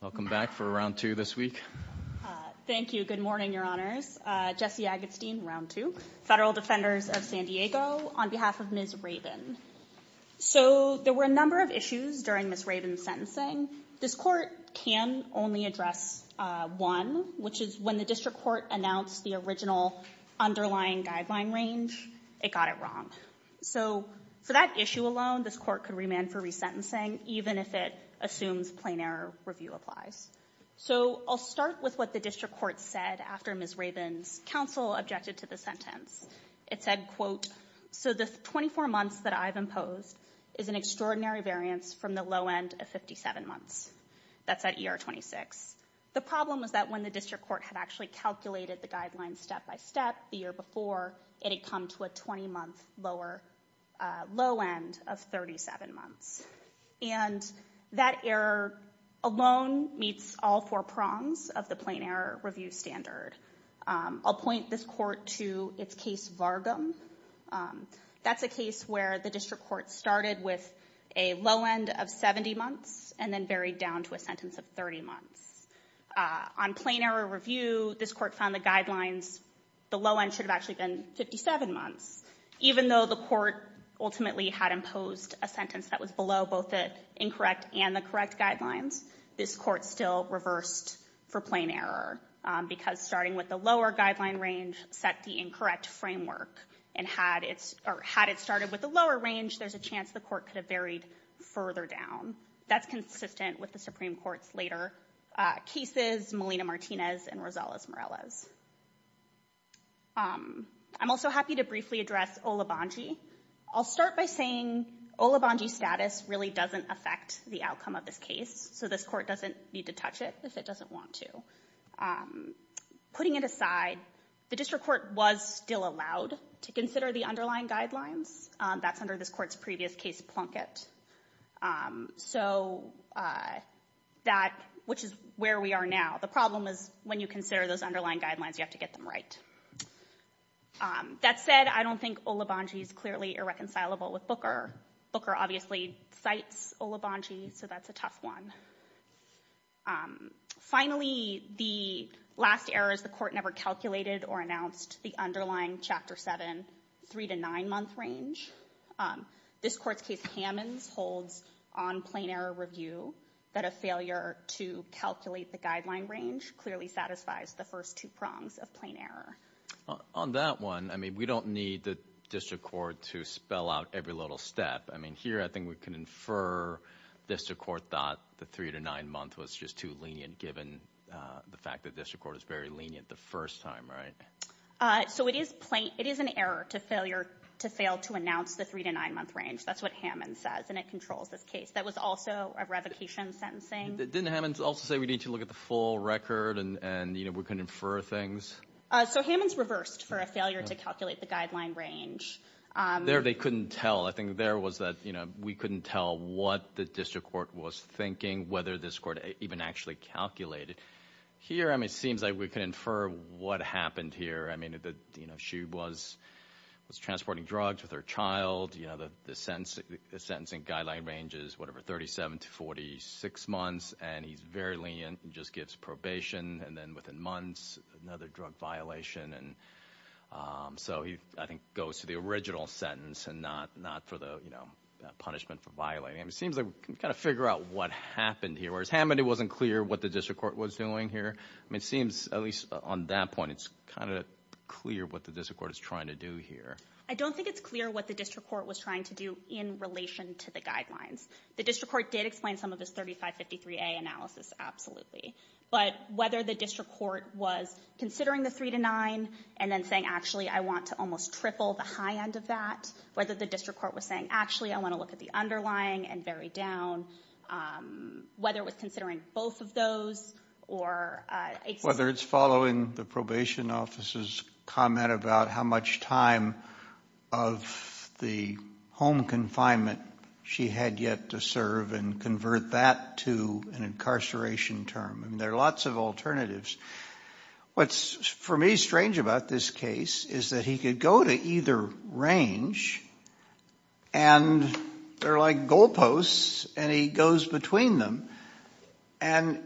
Welcome back for round two this week. Thank you. Good morning, Your Honors. Jesse Agatstein, round two, Federal Defenders of San Diego, on behalf of Ms. Rabon. So there were a number of issues during Ms. Rabon's sentencing. This Court can only address one, which is when the District Court announced the original underlying guideline range, it got it wrong. So for that issue alone, this Court can remand for resentencing, even if it assumes plain error review applies. So I'll start with what the District Court said after Ms. Rabon's counsel objected to the sentence. It said, quote, so the 24 months that I've imposed is an extraordinary variance from the low end of 57 months. That's at ER 26. The problem was that when the District Court had actually calculated the guidelines step by step the year before, it had come to a 20-month lower low end of 37 months. And that error alone meets all four prongs of the plain error review standard. I'll point this Court to its case, Vargum. That's a case where the District Court started with a low end of 70 months and then varied down to a sentence of 30 months. On plain error review, this Court found the guidelines, the low end should have actually been 57 months. Even though the Court ultimately had imposed a sentence that was below both the incorrect and the correct guidelines, this Court still reversed for plain error because starting with the lower guideline range set the incorrect framework. And had it started with the lower range, there's a chance the Court could have varied further down. That's consistent with the Supreme Court's later cases, Molina-Martinez and Rosales-Morales. I'm also happy to briefly address Olobongi. I'll start by saying Olobongi status really doesn't affect the outcome of this case, so this Court doesn't need to touch it if it doesn't want to. Putting it aside, the District Court was still allowed to consider the underlying guidelines. That's under this Court's previous case, Plunkett. So, that, which is where we are now. The problem is when you consider those underlying guidelines, you have to get them right. That said, I don't think Olobongi is clearly irreconcilable with Booker. Booker obviously cites Olobongi, so that's a tough one. Finally, the last error is the Court never calculated or announced the underlying Chapter 7, three to nine month range. This Court's case, Hammonds, holds on plain error review, that a failure to calculate the guideline range clearly satisfies the first two prongs of plain error. On that one, I mean, we don't need the District Court to spell out every little step. I mean, here I think we can infer District Court thought the three to nine month was just too lenient given the fact that District Court is very lenient the first time, right? So, it is an error to fail to announce the three to nine month range. That's what Hammonds says, and it controls this case. That was also a revocation sentencing. Didn't Hammonds also say we need to look at the full record and we can infer things? So, Hammonds reversed for a failure to calculate the guideline range. There they couldn't tell. I think there was that we couldn't tell what the District Court was thinking, whether this Court even actually calculated. Here, I mean, it seems like we can infer what happened here. I mean, that, you know, she was transporting drugs with her child. You know, the sentencing guideline range is whatever, 37 to 46 months, and he's very lenient. He just gives probation, and then within months, another drug violation. And so, he, I think, goes to the original sentence and not for the, you know, punishment for violating. I mean, it seems like we can kind of figure out what happened here. Whereas Hammond, it wasn't clear what the District Court was doing here. I mean, it seems, at least on that point, it's kind of clear what the District Court is trying to do here. I don't think it's clear what the District Court was trying to do in relation to the guidelines. The District Court did explain some of this 3553A analysis, absolutely. But whether the District Court was considering the 3 to 9 and then saying, actually, I want to almost triple the high end of that, whether the District Court was saying, actually, I want to look at the underlying and vary down, whether it was considering both of those, or... Whether it's following the probation officer's comment about how much time of the home confinement she had yet to serve and convert that to an incarceration term. I mean, there are lots of alternatives. What's, for me, strange about this case is that he could go to either range, and they're like goalposts, and he goes between them. And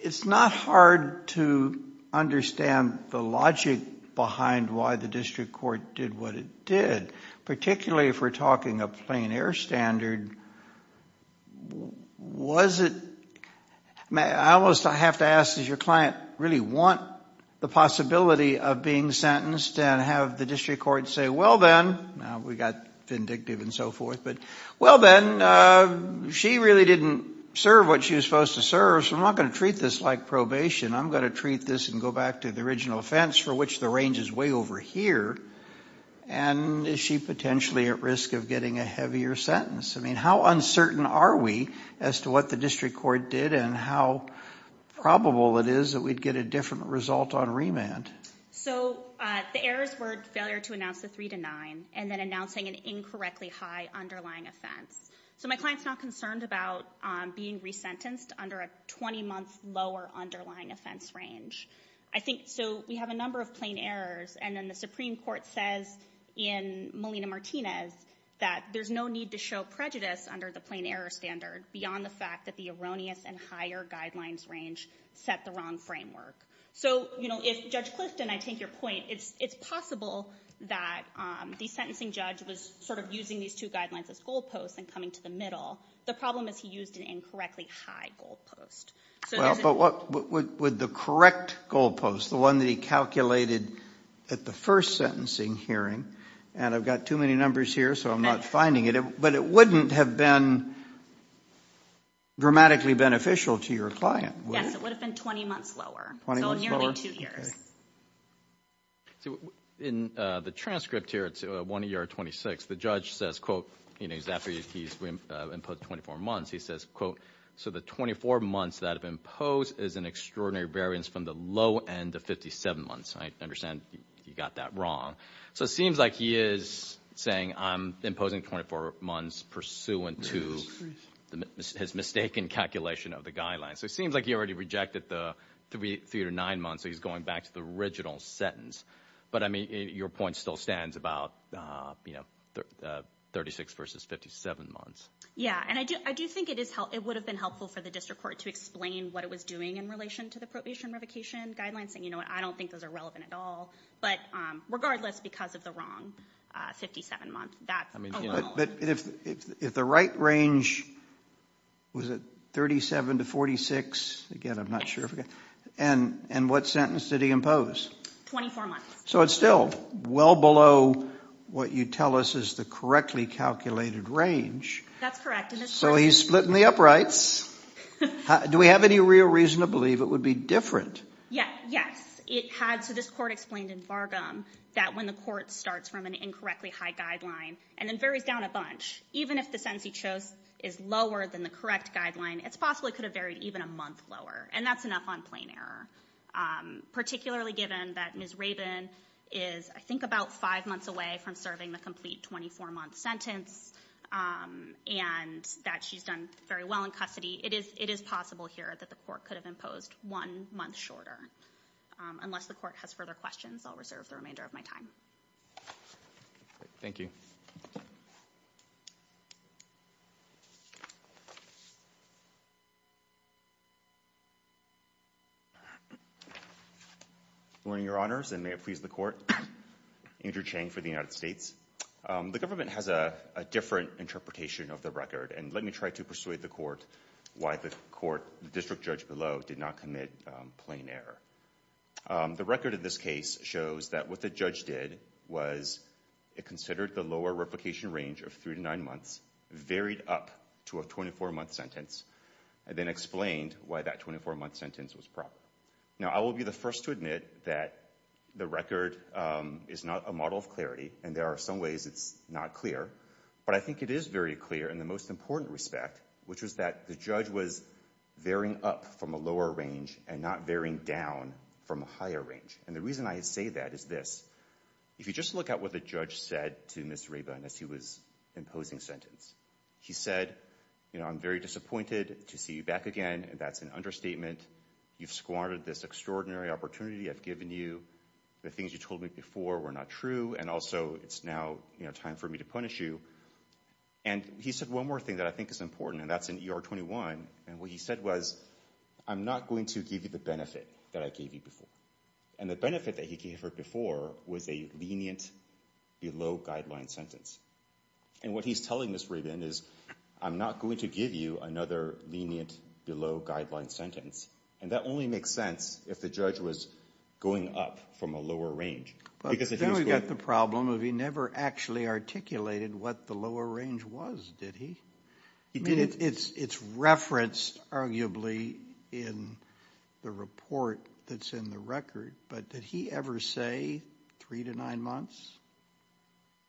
it's not hard to understand the logic behind why the District Court did what it did, particularly if we're talking a plain air standard. I almost have to ask, does your client really want the possibility of being sentenced and have the District Court say, well, then, we got vindictive and so forth, but, well, then, she really didn't serve what she was supposed to serve, so I'm not going to treat this like probation. I'm going to treat this and go back to the original offense, for which the range is way over here, and is she potentially at risk of getting a heavier sentence? I mean, how uncertain are we as to what the District Court did and how probable it is that we'd get a different result on remand? So the errors were failure to announce the 3-9 and then announcing an incorrectly high underlying offense. So my client's not concerned about being resentenced under a 20-month lower underlying offense range. I think, so we have a number of plain errors, and then the Supreme Court says in Melina Martinez that there's no need to show prejudice under the plain error standard beyond the fact that the erroneous and higher guidelines range set the wrong framework. So if Judge Clifton, I take your point, it's possible that the sentencing judge was sort of using these two guidelines as goalposts and coming to the middle. The problem is he used an incorrectly high goalpost. So there's a- Well, but what would the correct goalpost, the one that he calculated at the first sentencing hearing, and I've got too many numbers here, so I'm not finding it, but it wouldn't have been dramatically beneficial to your client. Yes, it would have been 20 months lower, so nearly two years. In the transcript here, it's 1 ER 26. The judge says, quote, you know, he's after you, he's imposed 24 months, he says, quote, so the 24 months that have been imposed is an extraordinary variance from the low end of 57 months. I understand you got that wrong. So it seems like he is saying, I'm imposing 24 months pursuant to his mistaken calculation of the guidelines. So it seems like he already rejected the three to nine months, so he's going back to the original sentence. But I mean, your point still stands about, you know, 36 versus 57 months. Yeah, and I do think it would have been helpful for the district court to explain what it was doing in relation to the probation revocation guidelines, saying, you know what, I don't think those are relevant at all. But regardless, because of the wrong 57 months, that's a little. But if the right range was at 37 to 46, again, I'm not sure. And what sentence did he impose? 24 months. So it's still well below what you tell us is the correctly calculated range. That's correct. So he's splitting the uprights. Do we have any real reason to believe it would be different? Yes. It had, so this court explained in Fargam that when the court starts from an incorrectly high guideline and then varies down a bunch, even if the sentence he chose is lower than the correct guideline, it's possible it could have varied even a month lower. And that's enough on plain error, particularly given that Ms. Rabin is, I think, about five months away from serving the complete 24-month sentence and that she's done very well in It is possible here that the court could have imposed one month shorter. Unless the court has further questions, I'll reserve the remainder of my time. Thank you. Good morning, Your Honors, and may it please the court. Andrew Chang for the United States. The government has a different interpretation of the record. And let me try to persuade the court why the court, the district judge below, did not commit plain error. The record of this case shows that what the judge did was it considered the lower replication range of three to nine months, varied up to a 24-month sentence, and then explained why that 24-month sentence was proper. Now I will be the first to admit that the record is not a model of clarity, and there are some ways it's not clear, but I think it is very clear in the most important respect, which is that the judge was varying up from a lower range and not varying down from a higher range. And the reason I say that is this. If you just look at what the judge said to Ms. Rabin as he was imposing sentence. He said, you know, I'm very disappointed to see you back again, and that's an understatement. You've squandered this extraordinary opportunity I've given you. The things you told me before were not true. And also, it's now, you know, time for me to punish you. And he said one more thing that I think is important, and that's in ER 21. And what he said was, I'm not going to give you the benefit that I gave you before. And the benefit that he gave her before was a lenient, below-guideline sentence. And what he's telling Ms. Rabin is, I'm not going to give you another lenient, below-guideline sentence. And that only makes sense if the judge was going up from a lower range. But then we've got the problem of he never actually articulated what the lower range was, did he? It's referenced, arguably, in the report that's in the record, but did he ever say three to nine months?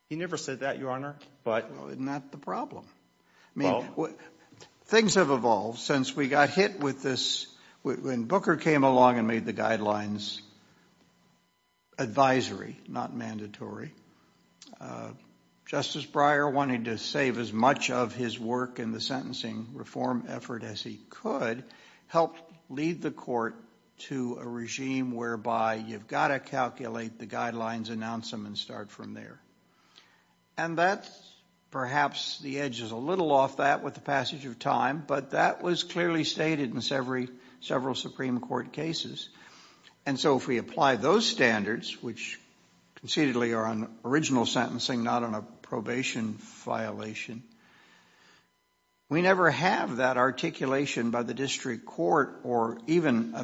He never said that, Your Honor, but. Not the problem. Things have evolved since we got hit with this. When Booker came along and made the guidelines advisory, not mandatory, Justice Breyer, wanting to save as much of his work in the sentencing reform effort as he could, helped lead the court to a regime whereby you've got to calculate the guidelines, announce them, and start from there. And that, perhaps, the edge is a little off that with the passage of time, but that was clearly stated in several Supreme Court cases. And so if we apply those standards, which concededly are on original sentencing, not on a probation violation, we never have that articulation by the district court or even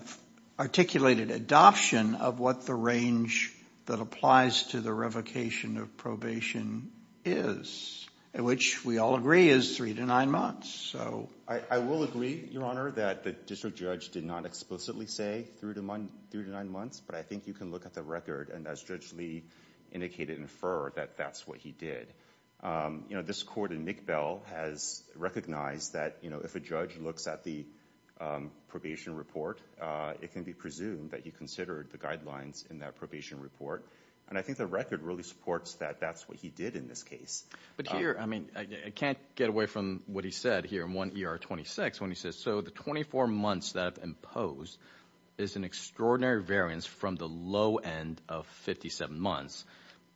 articulated adoption of what the range that applies to the revocation of probation is, which we all agree is three to nine months. I will agree, Your Honor, that the district judge did not explicitly say three to nine months, but I think you can look at the record, and as Judge Lee indicated, infer that that's what he did. This court in McBell has recognized that if a judge looks at the probation report, it can be presumed that he considered the guidelines in that probation report. And I think the record really supports that that's what he did in this case. But here, I mean, I can't get away from what he said here in 1 ER 26 when he says, so the 24 months that have imposed is an extraordinary variance from the low end of 57 months,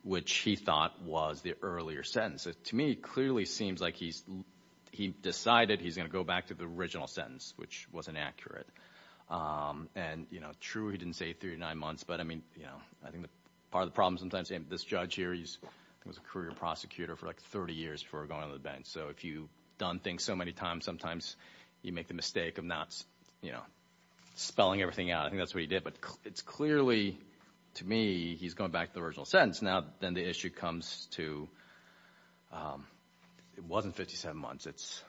which he thought was the earlier sentence. To me, it clearly seems like he decided he's going to go back to the original sentence, which wasn't accurate. And, you know, true, he didn't say three to nine months, but I mean, you know, I think part of the problem sometimes, this judge here, he was a career prosecutor for like 30 years before going on the bench. So if you've done things so many times, sometimes you make the mistake of not, you know, spelling everything out. I think that's what he did. But it's clearly, to me, he's going back to the original sentence. Now, then the issue comes to, it wasn't 57 months, it's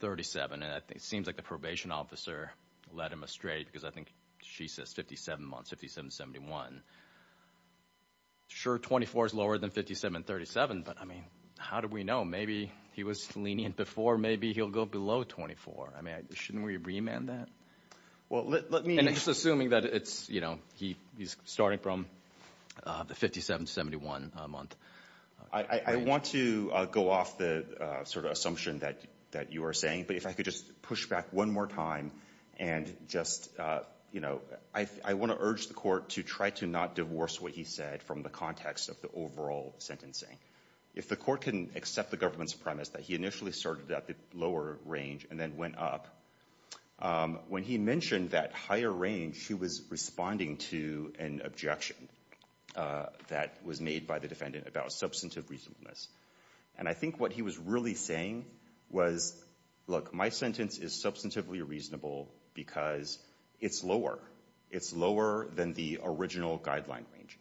37, and it seems like the probation officer led him astray because I think she says 57 months, 57 to 71. Sure 24 is lower than 57 and 37, but I mean, how do we know? Maybe he was lenient before, maybe he'll go below 24. I mean, shouldn't we remand that? Well let me... And it's assuming that it's, you know, he's starting from the 57 to 71 month. I want to go off the sort of assumption that you are saying, but if I could just push back one more time and just, you know, I want to urge the court to try to not divorce what he said from the context of the overall sentencing. If the court can accept the government's premise that he initially started at the lower range and then went up, when he mentioned that higher range, he was responding to an objection that was made by the defendant about substantive reasonableness. And I think what he was really saying was, look, my sentence is substantively reasonable because it's lower. It's lower than the original guideline range.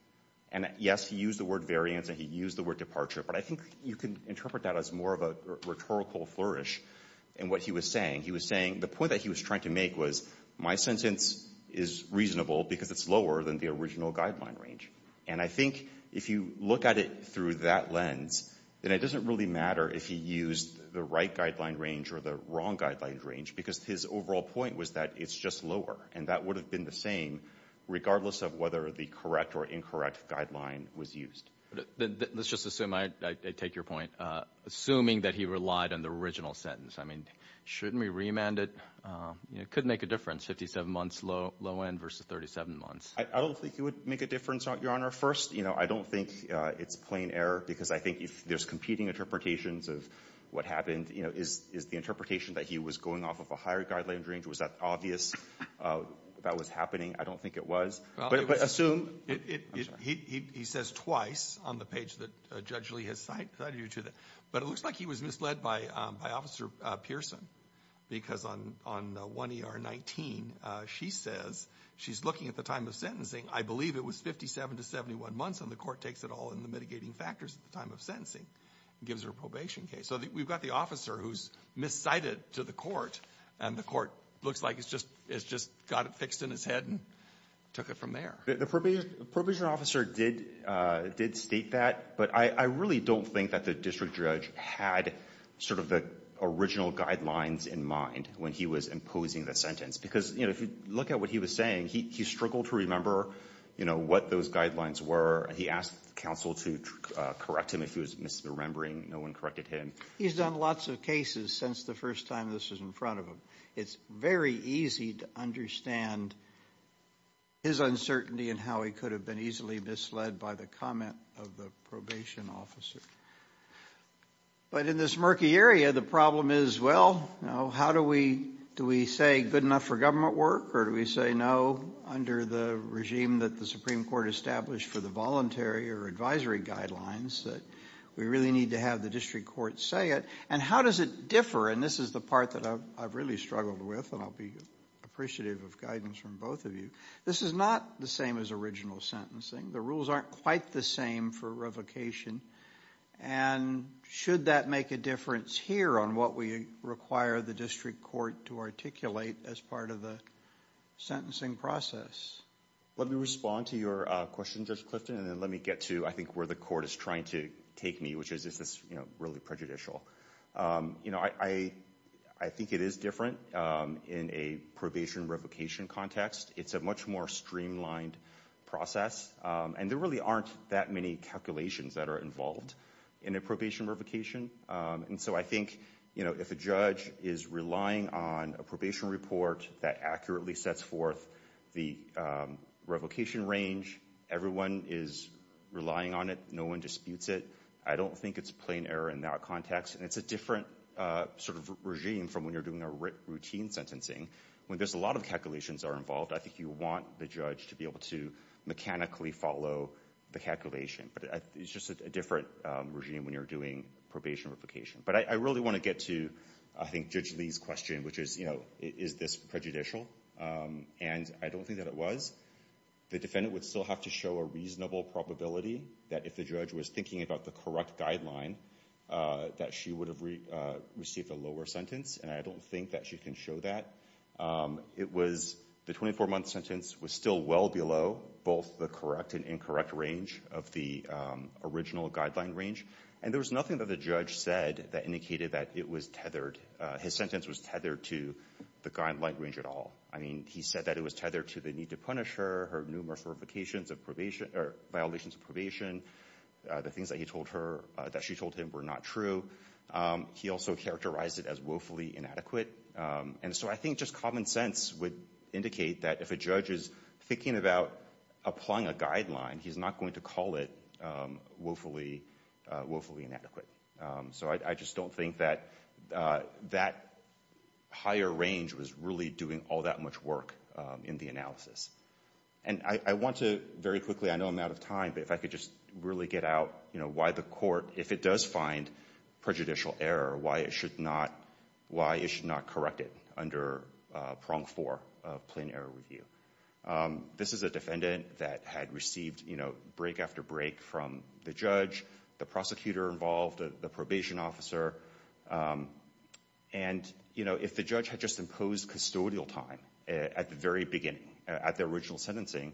And yes, he used the word variance and he used the word departure, but I think you can interpret that as more of a rhetorical flourish in what he was saying. He was saying, the point that he was trying to make was, my sentence is reasonable because it's lower than the original guideline range. And I think if you look at it through that lens, then it doesn't really matter if he used the right guideline range or the wrong guideline range, because his overall point was that it's just lower. And that would have been the same regardless of whether the correct or incorrect guideline was used. Let's just assume, I take your point, assuming that he relied on the original sentence. I mean, shouldn't we remand it? It could make a difference, 57 months low end versus 37 months. I don't think it would make a difference, Your Honor. First, I don't think it's plain error because I think there's competing interpretations of what happened. Is the interpretation that he was going off of a higher guideline range, was that obvious that was happening? I don't think it was. But assume. I'm sorry. He says twice on the page that Judge Lee has cited you to, but it looks like he was misled by Officer Pearson, because on 1 ER 19, she says, she's looking at the time of sentencing. I believe it was 57 to 71 months, and the court takes it all in the mitigating factors at the time of sentencing and gives her a probation case. So we've got the officer who's miscited to the court, and the court looks like it's just got it fixed in his head and took it from there. The probation officer did state that, but I really don't think that the district judge had sort of the original guidelines in mind when he was imposing the sentence. Because if you look at what he was saying, he struggled to remember what those guidelines were. He asked counsel to correct him if he was misremembering. No one corrected him. He's done lots of cases since the first time this was in front of him. It's very easy to understand his uncertainty and how he could have been easily misled by the comment of the probation officer. But in this murky area, the problem is, well, you know, how do we, do we say good enough for government work, or do we say no under the regime that the Supreme Court established for the voluntary or advisory guidelines, that we really need to have the district court say it? And how does it differ? And this is the part that I've really struggled with, and I'll be appreciative of guidance from both of you. This is not the same as original sentencing. The rules aren't quite the same for revocation. And should that make a difference here on what we require the district court to articulate as part of the sentencing process? Let me respond to your question, Judge Clifton, and then let me get to, I think, where the court is trying to take me, which is, is this really prejudicial? You know, I think it is different in a probation revocation context. It's a much more streamlined process. And there really aren't that many calculations that are involved in a probation revocation. And so I think, you know, if a judge is relying on a probation report that accurately sets forth the revocation range, everyone is relying on it, no one disputes it, I don't think it's plain error in that context. And it's a different sort of regime from when you're doing a routine sentencing. When there's a lot of calculations that are involved, I think you want the judge to be able to mechanically follow the calculation. But it's just a different regime when you're doing probation revocation. But I really want to get to, I think, Judge Lee's question, which is, you know, is this prejudicial? And I don't think that it was. The defendant would still have to show a reasonable probability that if the judge was thinking about the correct guideline, that she would have received a lower sentence, and I don't think that she can show that. It was, the 24-month sentence was still well below both the correct and incorrect range of the original guideline range. And there was nothing that the judge said that indicated that it was tethered, his sentence was tethered to the guideline range at all. I mean, he said that it was tethered to the need to punish her, her numerous revocations of probation, or violations of probation, the things that he told her, that she told him were not true. He also characterized it as woefully inadequate. And so I think just common sense would indicate that if a judge is thinking about applying a guideline, he's not going to call it woefully inadequate. So I just don't think that that higher range was really doing all that much work in the And I want to, very quickly, I know I'm out of time, but if I could just really get out, you know, why the court, if it does find prejudicial error, why it should not, why it should not correct it under prong four of plain error review. This is a defendant that had received, you know, break after break from the judge, the prosecutor involved, the probation officer, and, you know, if the judge had just imposed custodial time at the very beginning, at the original sentencing,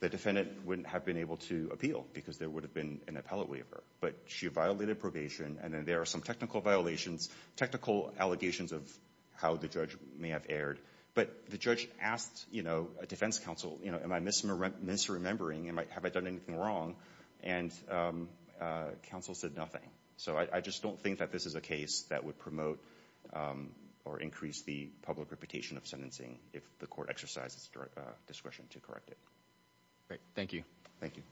the defendant wouldn't have been able to appeal because there would have been an appellate waiver. But she violated probation, and then there are some technical violations, technical allegations of how the judge may have erred. But the judge asked, you know, a defense counsel, you know, am I misremembering, have I done anything wrong? And counsel said nothing. So I just don't think that this is a case that would promote or increase the public reputation of sentencing if the court exercises discretion to correct it. Great, thank you. Thank you.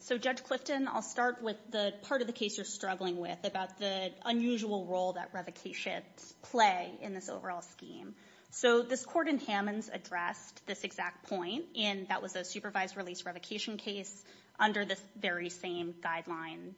So Judge Clifton, I'll start with the part of the case you're struggling with about the unusual role that revocations play in this overall scheme. So this court in Hammonds addressed this exact point, and that was a supervised release revocation case under this very same guideline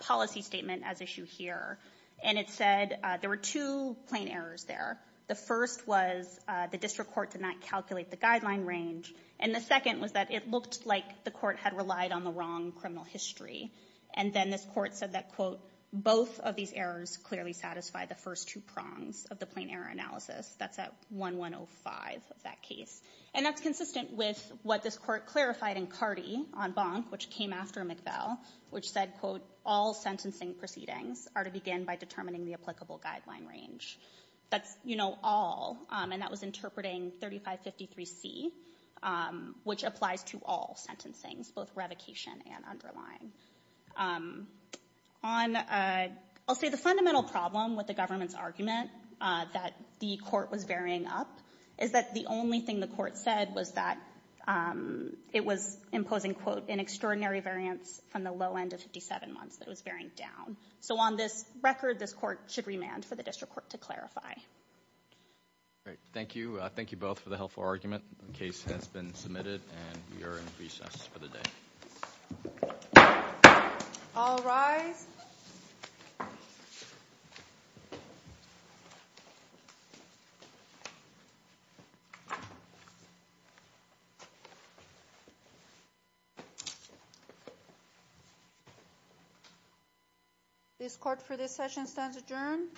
policy statement as issued here. And it said there were two plain errors there. The first was the district court did not calculate the guideline range. And the second was that it looked like the court had relied on the wrong criminal history. And then this court said that, quote, both of these errors clearly satisfy the first two prongs of the plain error analysis. That's at 1-105 of that case. And that's consistent with what this court clarified in Cardi on Bonk, which came after McVell, which said, quote, all sentencing proceedings are to begin by determining the applicable guideline range. That's, you know, all. And that was interpreting 3553C, which applies to all sentencing, both revocation and underlying. On I'll say the fundamental problem with the government's argument that the court was varying up is that the only thing the court said was that it was imposing, quote, an extraordinary variance from the low end of 57 months that it was varying down. So on this record, this court should remand for the district court to clarify. All right. Thank you. Thank you both for the helpful argument. The case has been submitted, and we are in recess for the day. All rise. This court for this session stands adjourned.